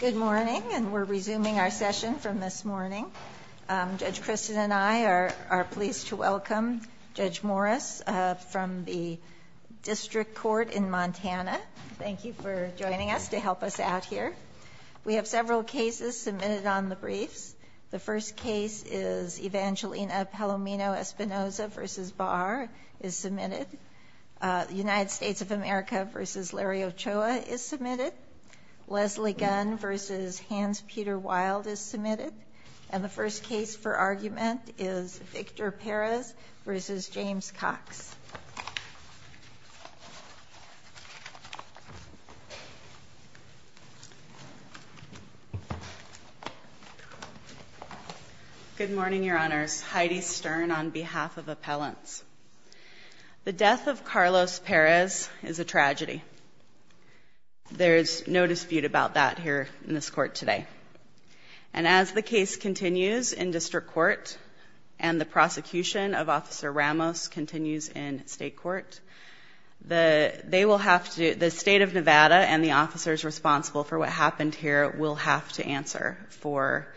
Good morning, and we're resuming our session from this morning. Judge Kristen and I are pleased to welcome Judge Morris from the District Court in Montana. Thank you for joining us to help us out here. We have several cases submitted on the briefs. The first case is Evangelina Palomino Espinoza v. Barr is submitted. United States of America v. Larry Ochoa is submitted. Leslie Gunn v. Hans Peter Wild is submitted. And the first case for argument is Victor Perez v. James Cox. Good morning, Your Honors. Heidi Stern on behalf of Appellants. The death of Carlos Perez is a tragedy. There's no dispute about that here in this court today. And as the case continues in District Court, and the prosecution of Officer Ramos continues in State Court, the State of Nevada and the officers responsible for what happened here will have to answer for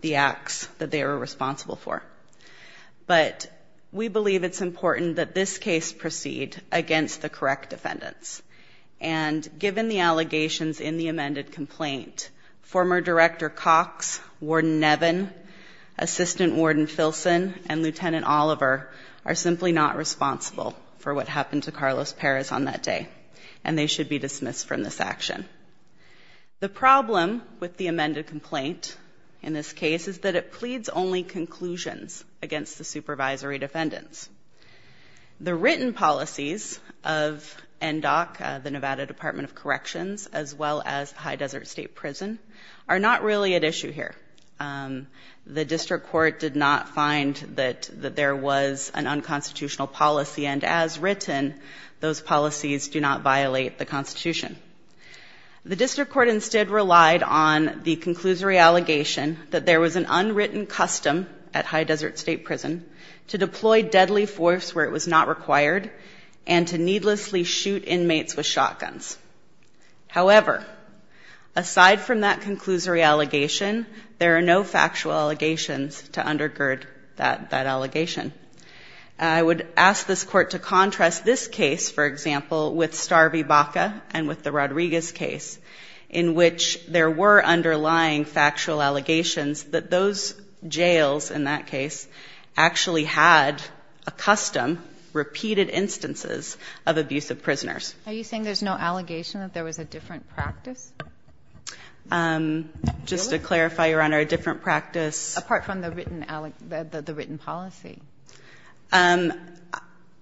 the acts that they were responsible for. But we believe it's important that this case proceed against the correct defendants. And given the allegations in the amended complaint, former Director Cox, Warden Nevin, Assistant Warden Filson, and Lieutenant Oliver are simply not responsible for what happened to Carlos Perez on that day, and they should be dismissed from this action. The problem with the amended complaint in this case is that it pleads only conclusions against the supervisory defendants. The written policies of NDOC, the Nevada Department of Corrections, as well as High Desert State Prison, are not really at issue here. The District Court did not find that there was an unconstitutional policy, and as written, those policies do not violate the Constitution. The District Court instead relied on the conclusory allegation that there was an unwritten custom at High Desert State Prison to deploy deadly force where it was not required, and to needlessly shoot inmates with shotguns. However, aside from that conclusory allegation, there are no factual allegations to undergird that allegation. I would ask this Court to contrast this case, for example, with Starby Baca and with the Rodriguez case, in which there were underlying factual allegations that those jails, in that case, actually had a custom, repeated instances of abuse of prisoners. Are you saying there's no allegation that there was a different practice? Just to clarify, Your Honor, a different practice? Apart from the written policy.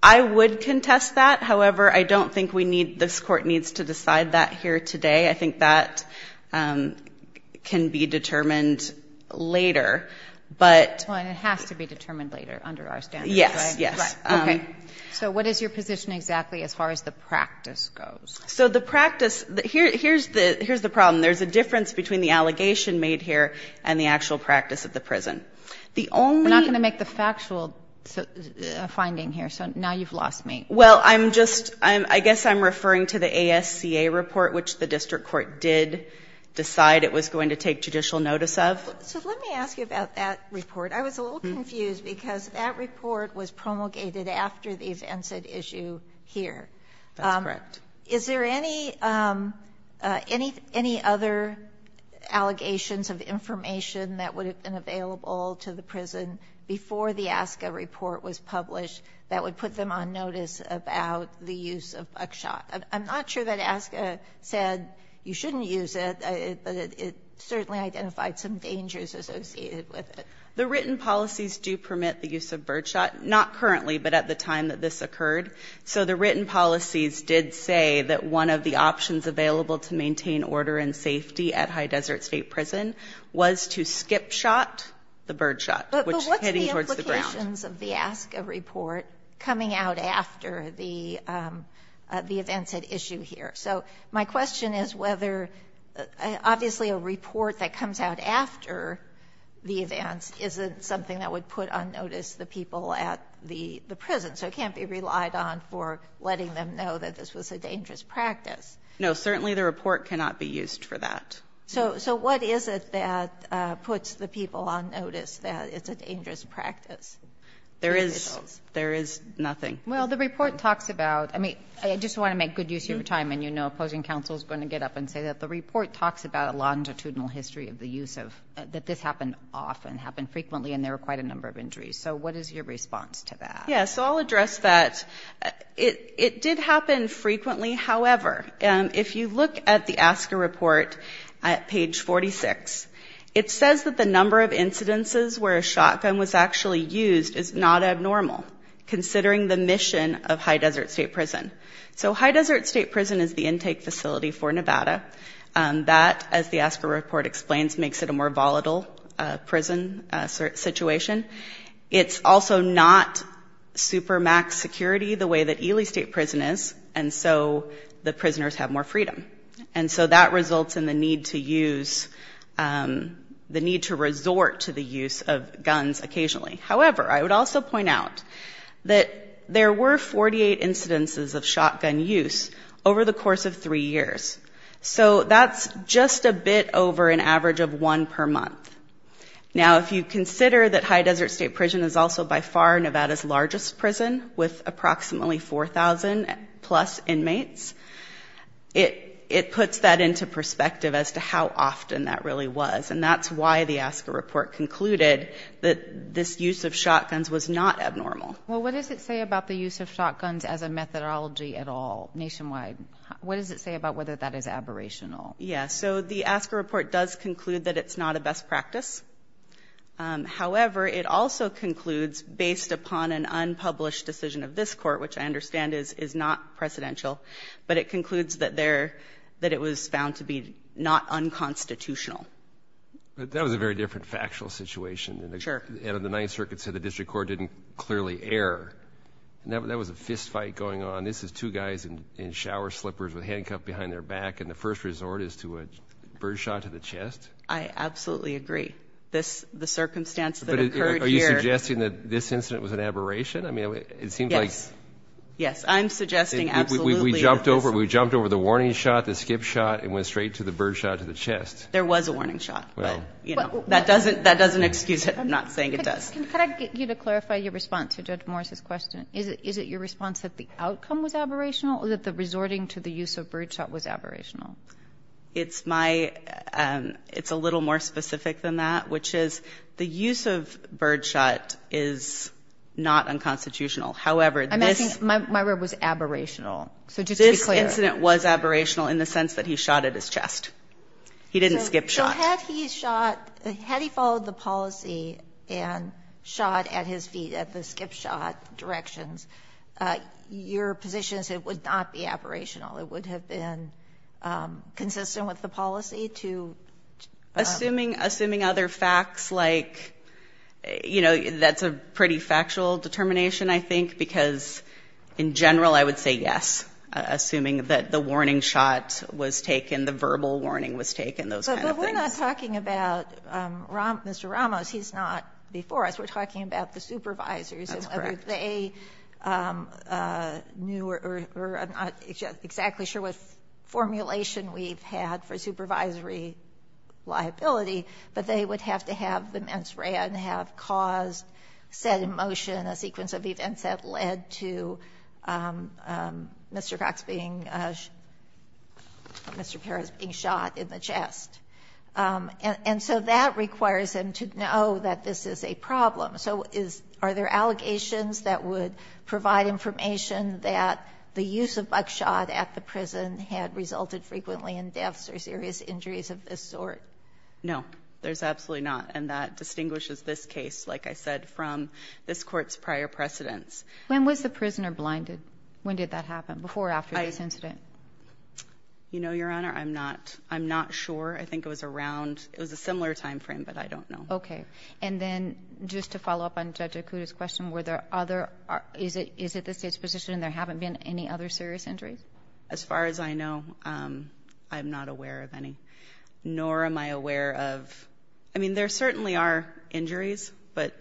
I would contest that. However, I don't think this Court needs to decide that here today. I think that can be determined later. It has to be determined later, under our standards, right? Yes, yes. So what is your position exactly as far as the practice goes? Here's the problem. There's a difference between the allegation made here and the actual practice of the prison. We're not going to make the factual finding here, so now you've lost me. Well, I'm just, I guess I'm referring to the ASCA report, which the district court did decide it was going to take judicial notice of. So let me ask you about that report. I was a little confused, because that report was promulgated after the events at issue here. That's correct. Is there any other allegations of information that would have been available to the prison before the ASCA report was published that would put them on notice about the use of Buckshot? I'm not sure that ASCA said you shouldn't use it, but it certainly identified some dangers associated with it. The written policies do permit the use of Birdshot, not currently, but at the time that this occurred. So the written policies did say that one of the options available to maintain order and safety at High Desert State Prison was to skip shot the Birdshot, which is heading towards the ground. But what's the implications of the ASCA report coming out after the events at issue here? So my question is whether, obviously a report that comes out after the events isn't something that would put on notice the people at the prison. So it can't be relied on for letting them know that this was a dangerous practice. No, certainly the report cannot be used for that. So what is it that puts the people on notice that it's a dangerous practice? There is nothing. Well, the report talks about – I mean, I just want to make good use of your time, and you know opposing counsel is going to get up and say that the report talks about a longitudinal history of the use of – that this happened often, happened frequently, and there were quite a number of injuries. So what is your response to that? Yeah, so I'll address that. It did happen frequently. However, if you look at the ASCA report at page 46, it says that the number of incidences where a shotgun was actually used is not abnormal, considering the mission of High Desert State Prison. So High Desert State Prison is the intake facility for Nevada. That, as the ASCA report explains, makes it a more volatile prison situation. It's also not super max security the way that Ely State Prison is, and so the prisoners have more freedom. And so that results in the need to use – the need to resort to the use of guns occasionally. However, I would also point out that there were 48 incidences of shotgun use over the course of three years. So that's just a bit over an average of one per month. Now, if you consider that High Desert State Prison is also by far Nevada's largest prison with approximately 4,000-plus inmates, it puts that into perspective as to how often that really was, and that's why the ASCA report concluded that this use of shotguns was not abnormal. Well, what does it say about the use of shotguns as a methodology at all nationwide? What does it say about whether that is aberrational? Yeah. So the ASCA report does conclude that it's not a best practice. However, it also concludes, based upon an unpublished decision of this Court, which I understand is not precedential, but it concludes that it was found to be not unconstitutional. But that was a very different factual situation. Sure. And the Ninth Circuit said the district court didn't clearly err. That was a fistfight going on. This is two guys in shower slippers with handcuffs behind their back, and the first resort is to a birdshot to the chest. I absolutely agree. The circumstance that occurred here – But are you suggesting that this incident was an aberration? I mean, it seems like – Yes. Yes. I'm suggesting absolutely. We jumped over the warning shot, the skip shot, and went straight to the birdshot to the chest. There was a warning shot, but, you know, that doesn't excuse it. I'm not saying it does. Can I get you to clarify your response to Judge Morris's question? Is it your response that the outcome was aberrational, or that the resorting to the use of birdshot was aberrational? It's my – it's a little more specific than that, which is the use of birdshot is not unconstitutional. However, this – I'm asking – my word was aberrational. So just to be clear. This incident was aberrational in the sense that he shot at his chest. He didn't skip shot. So had he shot – had he followed the policy and shot at his feet at the skip shot directions, your position is it would not be aberrational. It would have been consistent with the policy to – Assuming other facts like, you know, that's a pretty factual determination, I think, because in general I would say yes, assuming that the warning shot was taken, the verbal warning was taken, those kind of things. But we're not talking about Mr. Ramos. He's not before us. We're talking about the supervisors. That's correct. I'm not exactly sure what formulation we've had for supervisory liability, but they would have to have the mens rea and have caused, said in motion, a sequence of events that led to Mr. Cox being – Mr. Perez being shot in the chest. And so that requires them to know that this is a problem. So are there allegations that would provide information that the use of buckshot at the prison had resulted frequently in deaths or serious injuries of this sort? No, there's absolutely not. And that distinguishes this case, like I said, from this Court's prior precedents. When was the prisoner blinded? When did that happen, before or after this incident? You know, Your Honor, I'm not sure. I think it was around – it was a similar timeframe, but I don't know. Okay. And then just to follow up on Judge Okuda's question, were there other – is it the State's position there haven't been any other serious injuries? As far as I know, I'm not aware of any, nor am I aware of – I mean, there certainly are injuries, but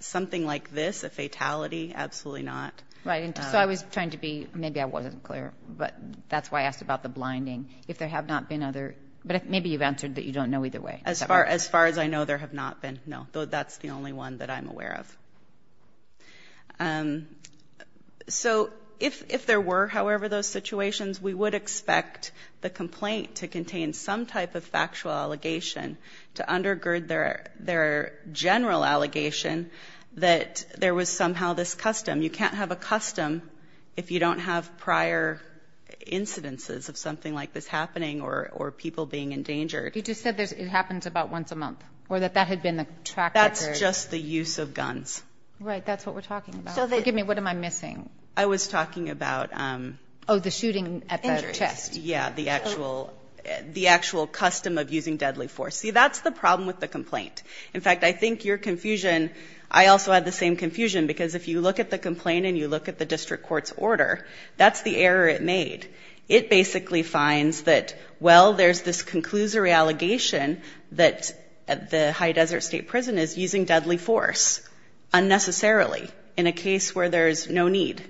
something like this, a fatality, absolutely not. Right. So I was trying to be – maybe I wasn't clear, but that's why I asked about the blinding, if there have not been other – but maybe you've answered that you don't know either way. As far as I know, there have not been, no. That's the only one that I'm aware of. So if there were, however, those situations, we would expect the complaint to contain some type of factual allegation to undergird their general allegation that there was somehow this custom. You can't have a custom if you don't have prior incidences of something like this happening or people being endangered. You just said it happens about once a month or that that had been the track record. That's just the use of guns. Right. That's what we're talking about. Forgive me. What am I missing? I was talking about – Oh, the shooting at the chest. Injuries. Yeah, the actual custom of using deadly force. See, that's the problem with the complaint. In fact, I think your confusion – I also had the same confusion because if you look at the complaint and you look at the district court's order, that's the error it made. It basically finds that, well, there's this conclusory allegation that the High Desert State Prison is using deadly force unnecessarily in a case where there's no need.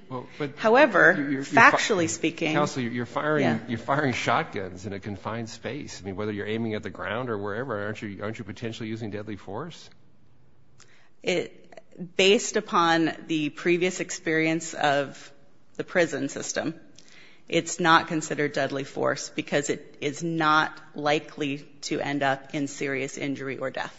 However, factually speaking – Counsel, you're firing shotguns in a confined space. I mean, whether you're aiming at the ground or wherever, aren't you potentially using deadly force? Based upon the previous experience of the prison system, it's not considered deadly force because it is not likely to end up in serious injury or death.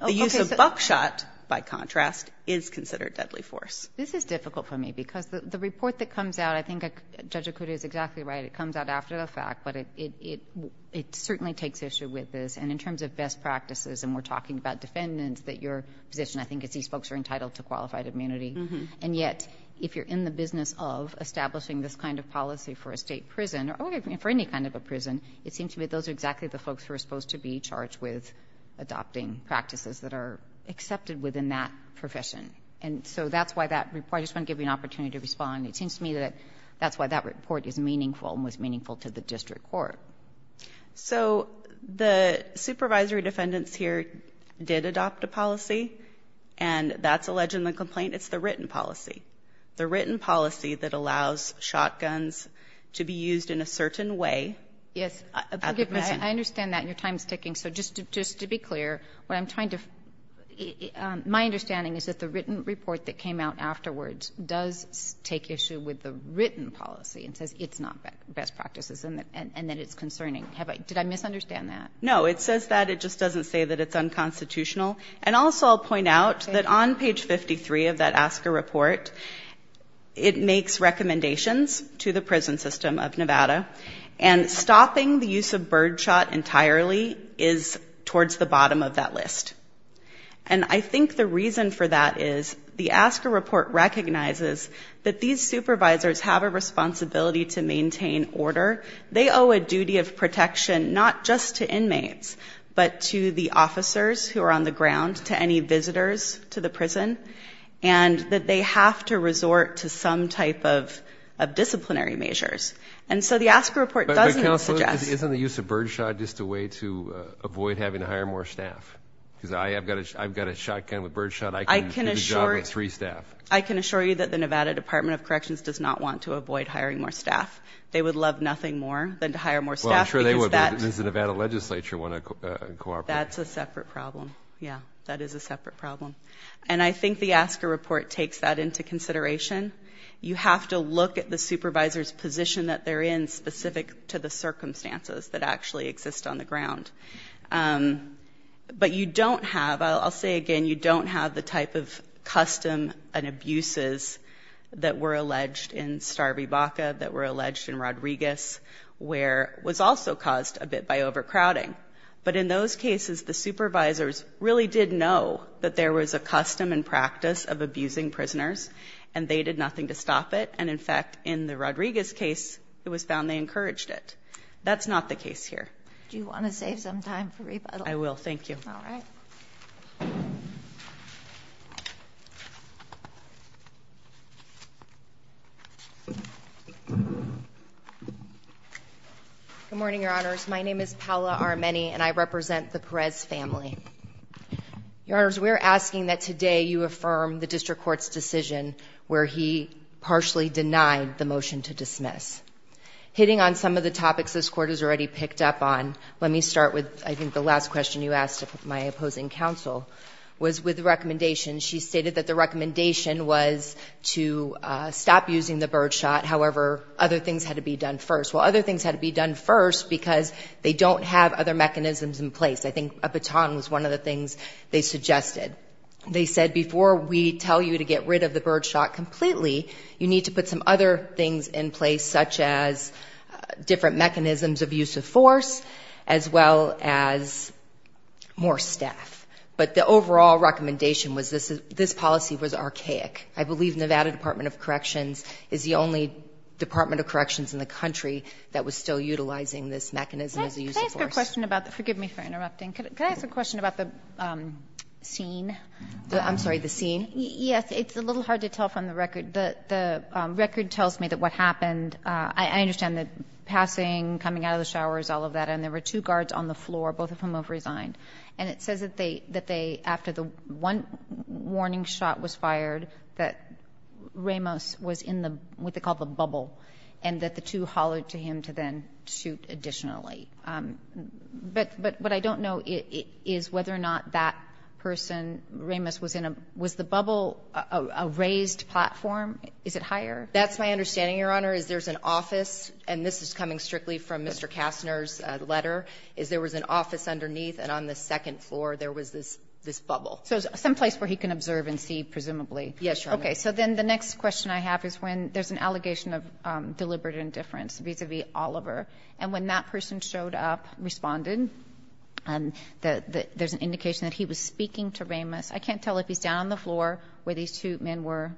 The use of buckshot, by contrast, is considered deadly force. This is difficult for me because the report that comes out – I think Judge Okuda is exactly right. It comes out after the fact, but it certainly takes issue with this. And in terms of best practices, and we're talking about defendants, that your position I think is these folks are entitled to qualified immunity. And yet, if you're in the business of establishing this kind of policy for a state prison or for any kind of a prison, it seems to me those are exactly the folks who are supposed to be charged with adopting practices that are accepted within that profession. And so that's why that report – I just want to give you an opportunity to respond. It seems to me that that's why that report is meaningful and was meaningful to the district court. So the supervisory defendants here did adopt a policy, and that's alleged in the complaint. It's the written policy. The written policy that allows shotguns to be used in a certain way at the prison. Kagan. I understand that, and your time is ticking. So just to be clear, what I'm trying to – my understanding is that the written report that came out afterwards does take issue with the written policy and says it's not best practices and that it's concerning. Did I misunderstand that? It says that. It just doesn't say that it's unconstitutional. And also I'll point out that on page 53 of that ASCA report, it makes recommendations to the prison system of Nevada, and stopping the use of birdshot entirely is towards the bottom of that list. And I think the reason for that is the ASCA report recognizes that these supervisors have a responsibility to maintain order. They owe a duty of protection not just to inmates but to the officers who are on the ground, to any visitors to the prison, and that they have to resort to some type of disciplinary measures. And so the ASCA report doesn't suggest – But, Counsel, isn't the use of birdshot just a way to avoid having to hire more staff? Because I've got a shotgun with birdshot. I can do the job with three staff. I can assure you that the Nevada Department of Corrections does not want to avoid hiring more staff. They would love nothing more than to hire more staff because that – Well, I'm sure they would, but does the Nevada legislature want to cooperate? That's a separate problem. Yeah, that is a separate problem. And I think the ASCA report takes that into consideration. You have to look at the supervisor's position that they're in specific to the circumstances that actually exist on the ground. But you don't have – I'll say again, you don't have the type of custom and abuses that were alleged in Starby Baca, that were alleged in Rodriguez, where it was also caused a bit by overcrowding. But in those cases, the supervisors really did know that there was a custom and practice of abusing prisoners, and they did nothing to stop it. And, in fact, in the Rodriguez case, it was found they encouraged it. That's not the case here. Do you want to save some time for rebuttal? I will. Thank you. All right. Good morning, Your Honors. My name is Paola Armeni, and I represent the Perez family. Your Honors, we are asking that today you affirm the district court's decision where he partially denied the motion to dismiss. Hitting on some of the topics this Court has already picked up on, let me start with I think the last question you asked my opposing counsel, was with the recommendation. She stated that the recommendation was to stop using the birdshot. However, other things had to be done first. Well, other things had to be done first because they don't have other mechanisms in place. I think a baton was one of the things they suggested. They said before we tell you to get rid of the birdshot completely, you need to put some other things in place such as different mechanisms of use of force as well as more staff. But the overall recommendation was this policy was archaic. I believe Nevada Department of Corrections is the only Department of Corrections in the country that was still utilizing this mechanism as a use of force. Can I ask a question about the scene? I'm sorry, the scene? Yes. It's a little hard to tell from the record. The record tells me that what happened. I understand the passing, coming out of the showers, all of that, and there were two guards on the floor, both of whom have resigned. And it says that they, after the one warning shot was fired, that Ramos was in what they call the bubble, and that the two hollered to him to then shoot additionally. But what I don't know is whether or not that person, Ramos, was in a, was the bubble a raised platform? Is it higher? That's my understanding, Your Honor, is there's an office, and this is coming strictly from Mr. Kastner's letter, is there was an office underneath, and on the second floor there was this bubble. So some place where he can observe and see, presumably. Yes, Your Honor. Okay. So then the next question I have is when there's an allegation of deliberate indifference vis-a-vis Oliver, and when that person showed up, responded, there's an indication that he was speaking to Ramos. I can't tell if he's down on the floor where these two men were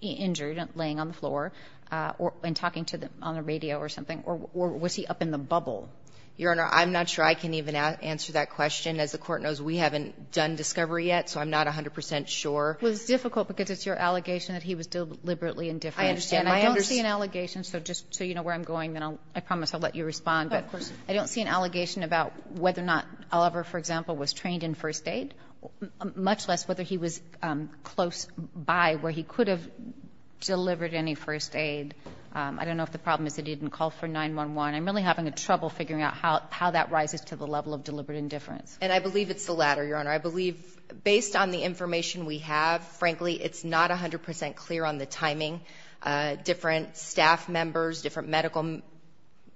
injured, laying on the floor, and talking on the radio or something, or was he up in the bubble? Your Honor, I'm not sure I can even answer that question. As the Court knows, we haven't done discovery yet, so I'm not 100 percent sure. Well, it's difficult because it's your allegation that he was deliberately indifferent. I understand. I don't see an allegation. So just so you know where I'm going, then I promise I'll let you respond. Of course. I don't see an allegation about whether or not Oliver, for example, was trained in first aid, much less whether he was close by where he could have delivered any first aid. I don't know if the problem is that he didn't call for 911. I'm really having trouble figuring out how that rises to the level of deliberate indifference. And I believe it's the latter, Your Honor. I believe, based on the information we have, frankly, it's not 100 percent clear on the timing. Different staff members, different medical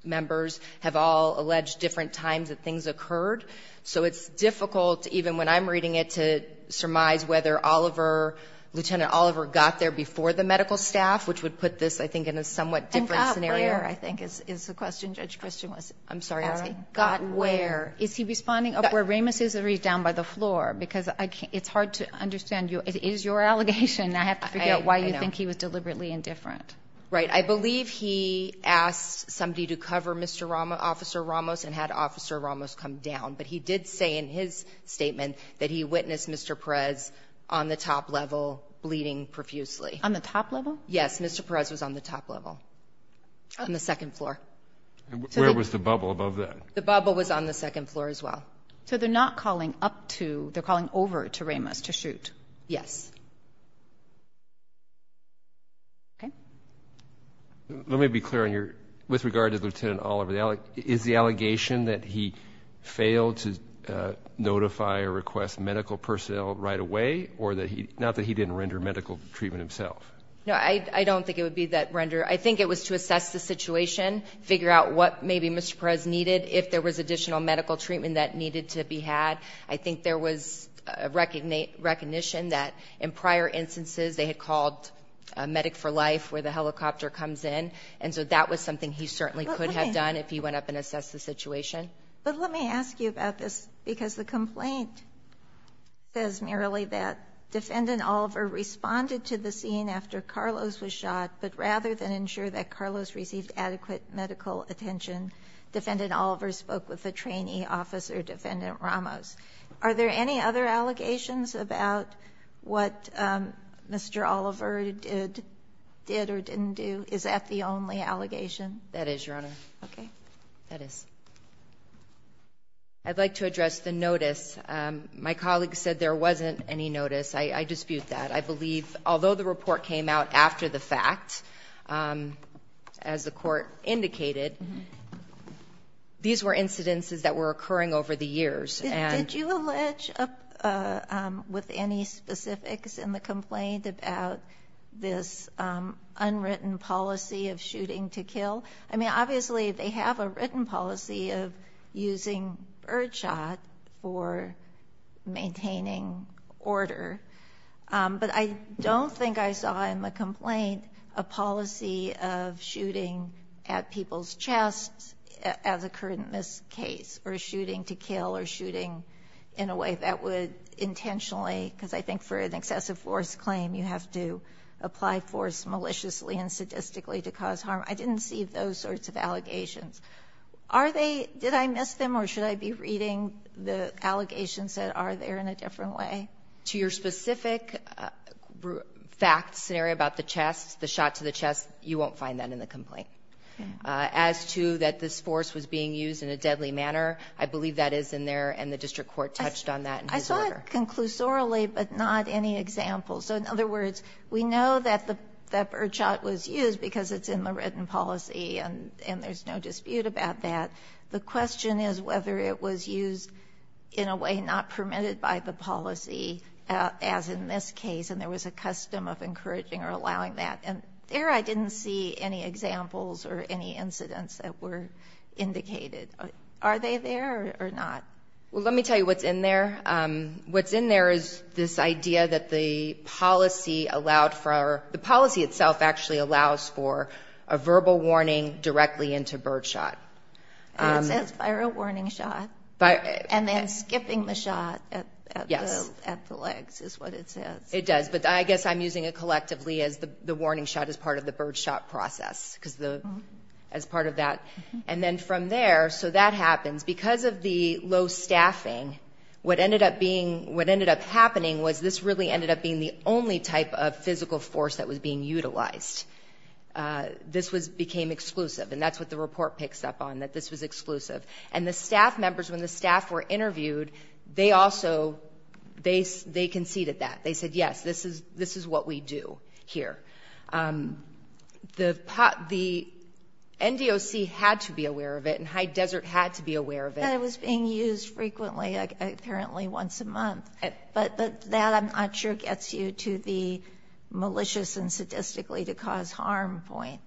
members have all alleged different times that things occurred. So it's difficult, even when I'm reading it, to surmise whether Oliver, Lieutenant Oliver, got there before the medical staff, which would put this, I think, in a somewhat different scenario. Where, I think, is the question Judge Christian was, I'm sorry, asking. Got where. Is he responding up where Ramos is or is he down by the floor? Because it's hard to understand. It is your allegation. I have to figure out why you think he was deliberately indifferent. Right. I believe he asked somebody to cover Mr. Ramos, Officer Ramos, and had Officer Ramos come down. But he did say in his statement that he witnessed Mr. Perez on the top level bleeding profusely. On the top level? Yes. Mr. Perez was on the top level. On the second floor. Where was the bubble above that? The bubble was on the second floor as well. So they're not calling up to, they're calling over to Ramos to shoot? Yes. Okay. Let me be clear on your, with regard to Lieutenant Oliver, is the allegation that he failed to notify or request medical personnel right away or that he, not that he didn't render medical treatment himself? No, I don't think it would be that render. I think it was to assess the situation, figure out what maybe Mr. Perez needed, if there was additional medical treatment that needed to be had. I think there was a recognition that in prior instances they had called Medic for Life where the helicopter comes in. And so that was something he certainly could have done if he went up and assessed the situation. But let me ask you about this because the complaint says merely that to ensure that Carlos received adequate medical attention, Defendant Oliver spoke with a trainee officer, Defendant Ramos. Are there any other allegations about what Mr. Oliver did or didn't do? Is that the only allegation? That is, Your Honor. Okay. That is. I'd like to address the notice. My colleague said there wasn't any notice. I dispute that. I believe although the report came out after the fact, as the court indicated, these were incidences that were occurring over the years. Did you allege, with any specifics in the complaint, about this unwritten policy of shooting to kill? I mean, obviously they have a written policy of using birdshot for maintaining order, but I don't think I saw in the complaint a policy of shooting at people's chest as a current miscase or shooting to kill or shooting in a way that would intentionally, because I think for an excessive force claim, you have to apply force maliciously and sadistically to cause harm. I didn't see those sorts of allegations. Are they? Did I miss them or should I be reading the allegations that are there in a different way? To your specific fact scenario about the chest, the shot to the chest, you won't find that in the complaint. As to that this force was being used in a deadly manner, I believe that is in there and the district court touched on that in his order. I saw it conclusorially, but not any example. So in other words, we know that the birdshot was used because it's in the written policy and there's no dispute about that. The question is whether it was used in a way not permitted by the policy, as in this case, and there was a custom of encouraging or allowing that. And there I didn't see any examples or any incidents that were indicated. Are they there or not? Well, let me tell you what's in there. What's in there is this idea that the policy allowed for, the policy itself actually allows for a verbal warning directly into birdshot. And it says viral warning shot. And then skipping the shot at the legs is what it says. It does. But I guess I'm using it collectively as the warning shot as part of the birdshot process, as part of that. And then from there, so that happens. Because of the low staffing, what ended up happening was this really ended up being the only type of physical force that was being utilized. This became exclusive. And that's what the report picks up on, that this was exclusive. And the staff members, when the staff were interviewed, they conceded that. They said, yes, this is what we do here. The NDOC had to be aware of it and High Desert had to be aware of it. And it was being used frequently, apparently once a month. But that, I'm not sure, gets you to the malicious and sadistically to cause harm point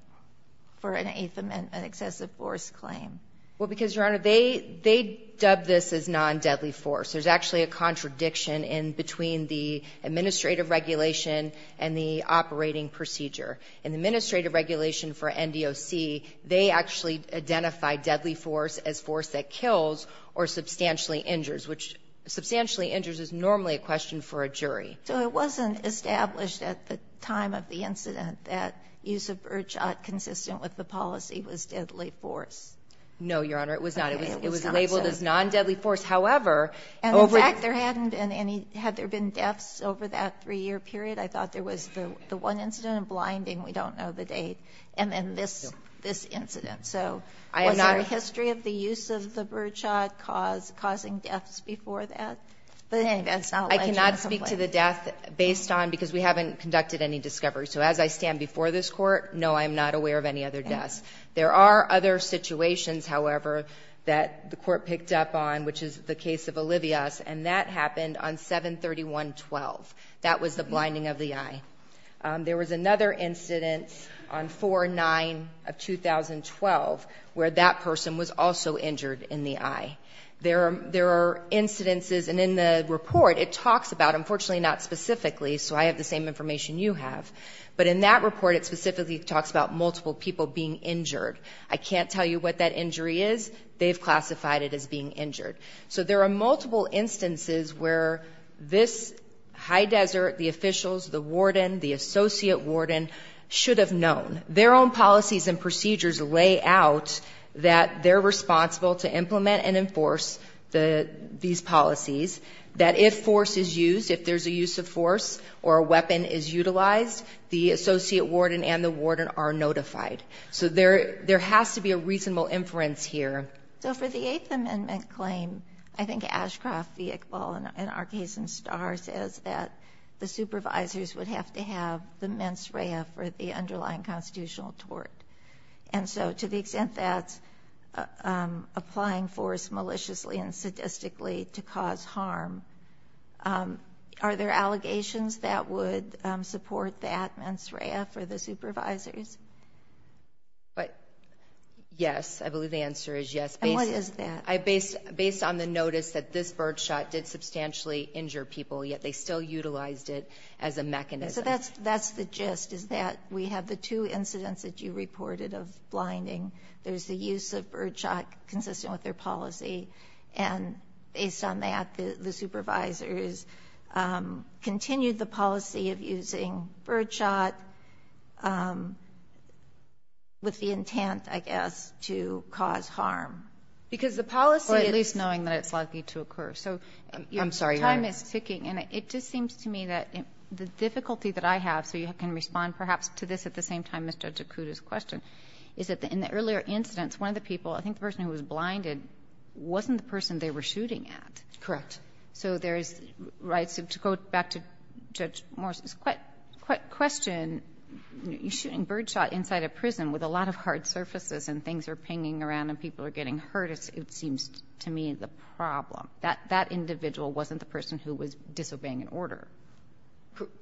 for an Eighth Amendment excessive force claim. Well, because, Your Honor, they dubbed this as non-deadly force. There's actually a contradiction in between the administrative regulation and the operating procedure. In the administrative regulation for NDOC, they actually identified deadly force as force that kills or substantially injures, which substantially injures is normally a question for a jury. So it wasn't established at the time of the incident that use of birdshot consistent with the policy was deadly force? No, Your Honor. It was not. It was labeled as non-deadly force. However, over the ---- And, in fact, there hadn't been any. Had there been deaths over that three-year period? I thought there was the one incident of blinding. We don't know the date. And then this incident. So was there a history of the use of the birdshot causing deaths before that? I cannot speak to the death based on, because we haven't conducted any discovery. So as I stand before this Court, no, I'm not aware of any other deaths. There are other situations, however, that the Court picked up on, which is the case of Olivias, and that happened on 731.12. That was the blinding of the eye. There was another incident on 4-9 of 2012 where that person was also injured in the eye. There are incidences, and in the report it talks about, unfortunately not specifically, so I have the same information you have, but in that report it specifically talks about multiple people being injured. I can't tell you what that injury is. They've classified it as being injured. So there are multiple instances where this high desert, the officials, the warden, the associate warden should have known. Their own policies and procedures lay out that they're responsible to implement and enforce these policies, that if force is used, if there's a use of force or a weapon is utilized, the associate warden and the warden are notified. So there has to be a reasonable inference here. So for the Eighth Amendment claim, I think Ashcroft v. Iqbal, in our case in Starr, says that the supervisors would have to have the mens rea for the underlying constitutional tort. And so to the extent that's applying force maliciously and sadistically to cause harm, are there allegations that would support that mens rea for the supervisors? Yes, I believe the answer is yes. And what is that? Based on the notice that this birdshot did substantially injure people, yet they still utilized it as a mechanism. So that's the gist, is that we have the two incidents that you reported of blinding. There's the use of birdshot consistent with their policy, and based on that, the supervisors continued the policy of using birdshot with the intent, I guess, to cause harm. Because the policy is... Or at least knowing that it's likely to occur. I'm sorry. Time is ticking. And it just seems to me that the difficulty that I have, so you can respond perhaps to this at the same time, Mr. Jakuda's question, is that in the earlier incidents, one of the people, I think the person who was blinded, wasn't the person they were shooting at. Correct. So there's... Right. So to go back to Judge Morris's question, you're shooting birdshot inside a prison with a lot of hard surfaces and things are pinging around and people are getting hurt, it seems to me the problem. That individual wasn't the person who was disobeying an order.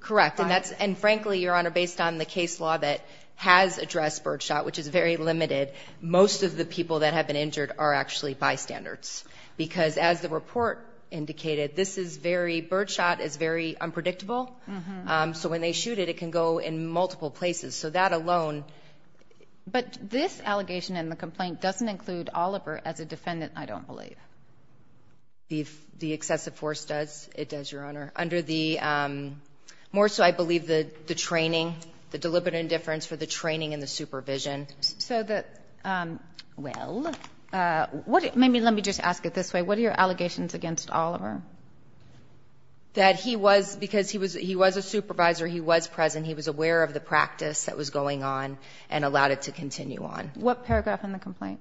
Correct. And frankly, Your Honor, based on the case law that has addressed birdshot, which is very limited, most of the people that have been injured are actually bystanders. Because as the report indicated, this is very... Birdshot is very unpredictable. So when they shoot it, it can go in multiple places. So that alone... But this allegation in the complaint doesn't include Oliver as a defendant, I don't believe. The excessive force does. It does, Your Honor. Under the... More so, I believe, the training, the deliberate indifference for the training and the supervision. So that, well, maybe let me just ask it this way. What are your allegations against Oliver? That he was, because he was a supervisor, he was present, he was aware of the practice that was going on and allowed it to continue on. What paragraph in the complaint?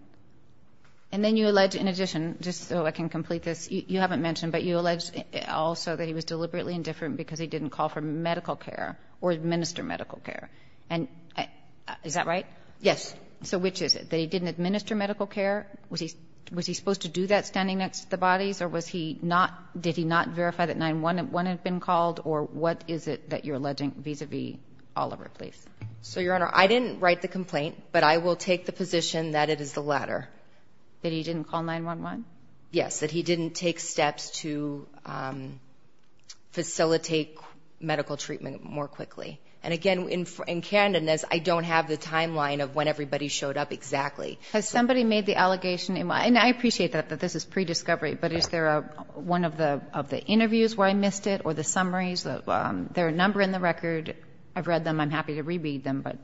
And then you allege, in addition, just so I can complete this, you haven't mentioned, but you allege also that he was deliberately indifferent because he didn't call for medical care or administer medical care. And is that right? Yes. So which is it, that he didn't administer medical care? Was he supposed to do that standing next to the bodies? Or did he not verify that 911 had been called? Or what is it that you're alleging vis-à-vis Oliver, please? So, Your Honor, I didn't write the complaint, but I will take the position that it is the latter. That he didn't call 911? Yes, that he didn't take steps to facilitate medical treatment more quickly. And, again, in candidness, I don't have the timeline of when everybody showed up exactly. Has somebody made the allegation? And I appreciate that this is pre-discovery, but is there one of the interviews where I missed it or the summaries? There are a number in the record. I've read them. I'm happy to re-read them. But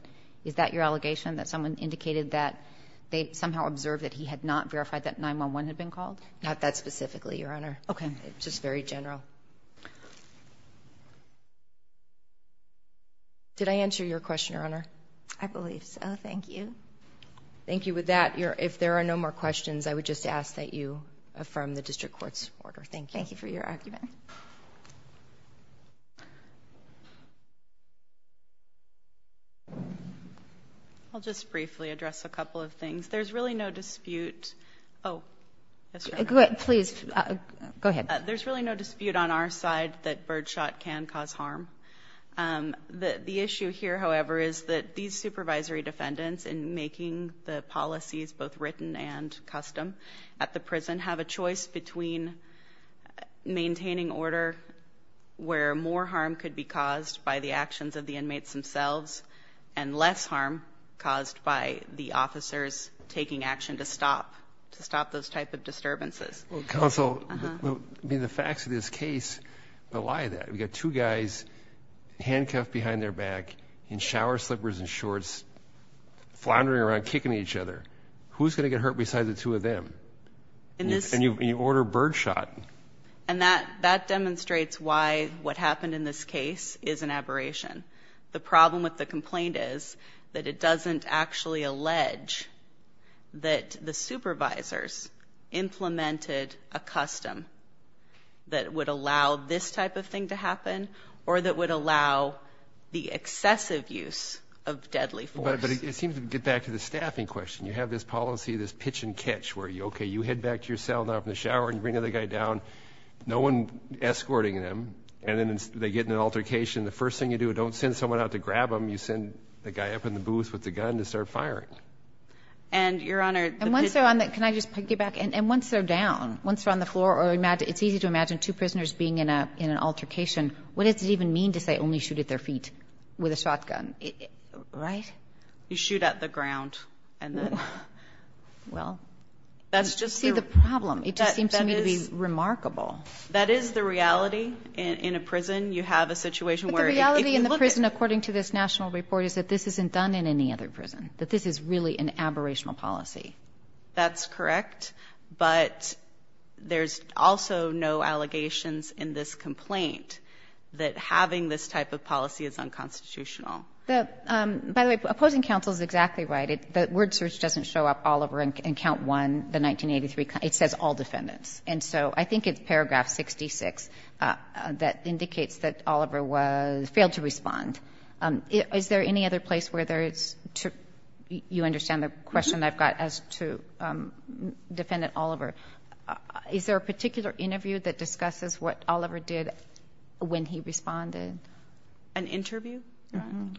is that your allegation, that someone indicated that they somehow observed that he had not verified that 911 had been called? Not that specifically, Your Honor. Okay. Just very general. Did I answer your question, Your Honor? I believe so. Thank you. Thank you. With that, if there are no more questions, I would just ask that you affirm the district court's order. Thank you. Thank you for your argument. I'll just briefly address a couple of things. There's really no dispute. Oh. Yes, Your Honor. Please. Go ahead. There's really no dispute on our side that birdshot can cause harm. The issue here, however, is that these supervisory defendants in making the policies both written and custom at the prison have a choice between maintaining order where more harm could be caused by the actions of the inmates themselves and less harm caused by the officers taking action to stop those type of disturbances. Counsel, the facts of this case rely on that. We've got two guys handcuffed behind their back in shower slippers and shorts floundering around kicking each other. Who's going to get hurt besides the two of them? And you order birdshot. And that demonstrates why what happened in this case is an aberration. The problem with the complaint is that it doesn't actually allege that the supervisors implemented a custom that would allow this type of thing to happen or that would allow the excessive use of deadly force. But it seems to get back to the staffing question. You have this policy, this pitch and catch where, okay, you head back to your cell now from the shower and you bring the other guy down, no one escorting them, and then they get in an altercation. The first thing you do, don't send someone out to grab them. You send the guy up in the booth with the gun to start firing. And, Your Honor, the pitch. Can I just piggyback? And once they're down, once they're on the floor, or it's easy to imagine two prisoners being in an altercation, what does it even mean to say only shoot at their feet with a shotgun, right? You shoot at the ground. Well, you see the problem. It just seems to me to be remarkable. That is the reality. In a prison, you have a situation where if you look at it. But the reality in the prison, according to this national report, is that this isn't done in any other prison, that this is really an aberrational policy. That's correct. But there's also no allegations in this complaint that having this type of policy is unconstitutional. By the way, opposing counsel is exactly right. The word search doesn't show up all over in Count 1, the 1983. It says all defendants. And so I think it's paragraph 66 that indicates that Oliver failed to respond. Is there any other place where there is to you understand the question I've got as to Defendant Oliver. Is there a particular interview that discusses what Oliver did when he responded? An interview?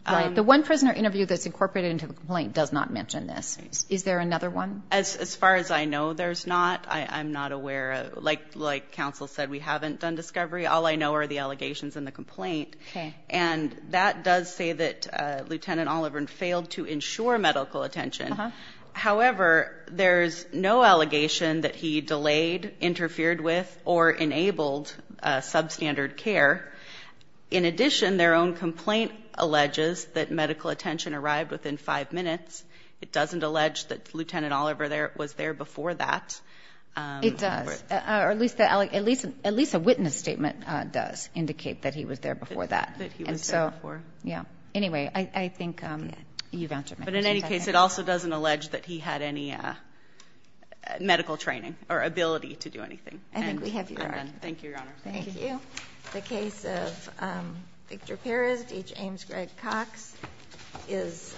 Right. The one prisoner interview that's incorporated into the complaint does not mention this. Is there another one? As far as I know, there's not. I'm not aware. Like counsel said, we haven't done discovery. All I know are the allegations in the complaint. Okay. And that does say that Lieutenant Oliver failed to ensure medical attention. However, there's no allegation that he delayed, interfered with, or enabled substandard care. In addition, their own complaint alleges that medical attention arrived within five minutes. It doesn't allege that Lieutenant Oliver was there before that. It does. Or at least a witness statement does indicate that he was there before that. That he was there before. Yeah. Anyway, I think you've answered my question. But in any case, it also doesn't allege that he had any medical training or ability to do anything. I think we have your argument. Thank you, Your Honor. Thank you. The case of Victor Perez v. James Gregg Cox is submitted.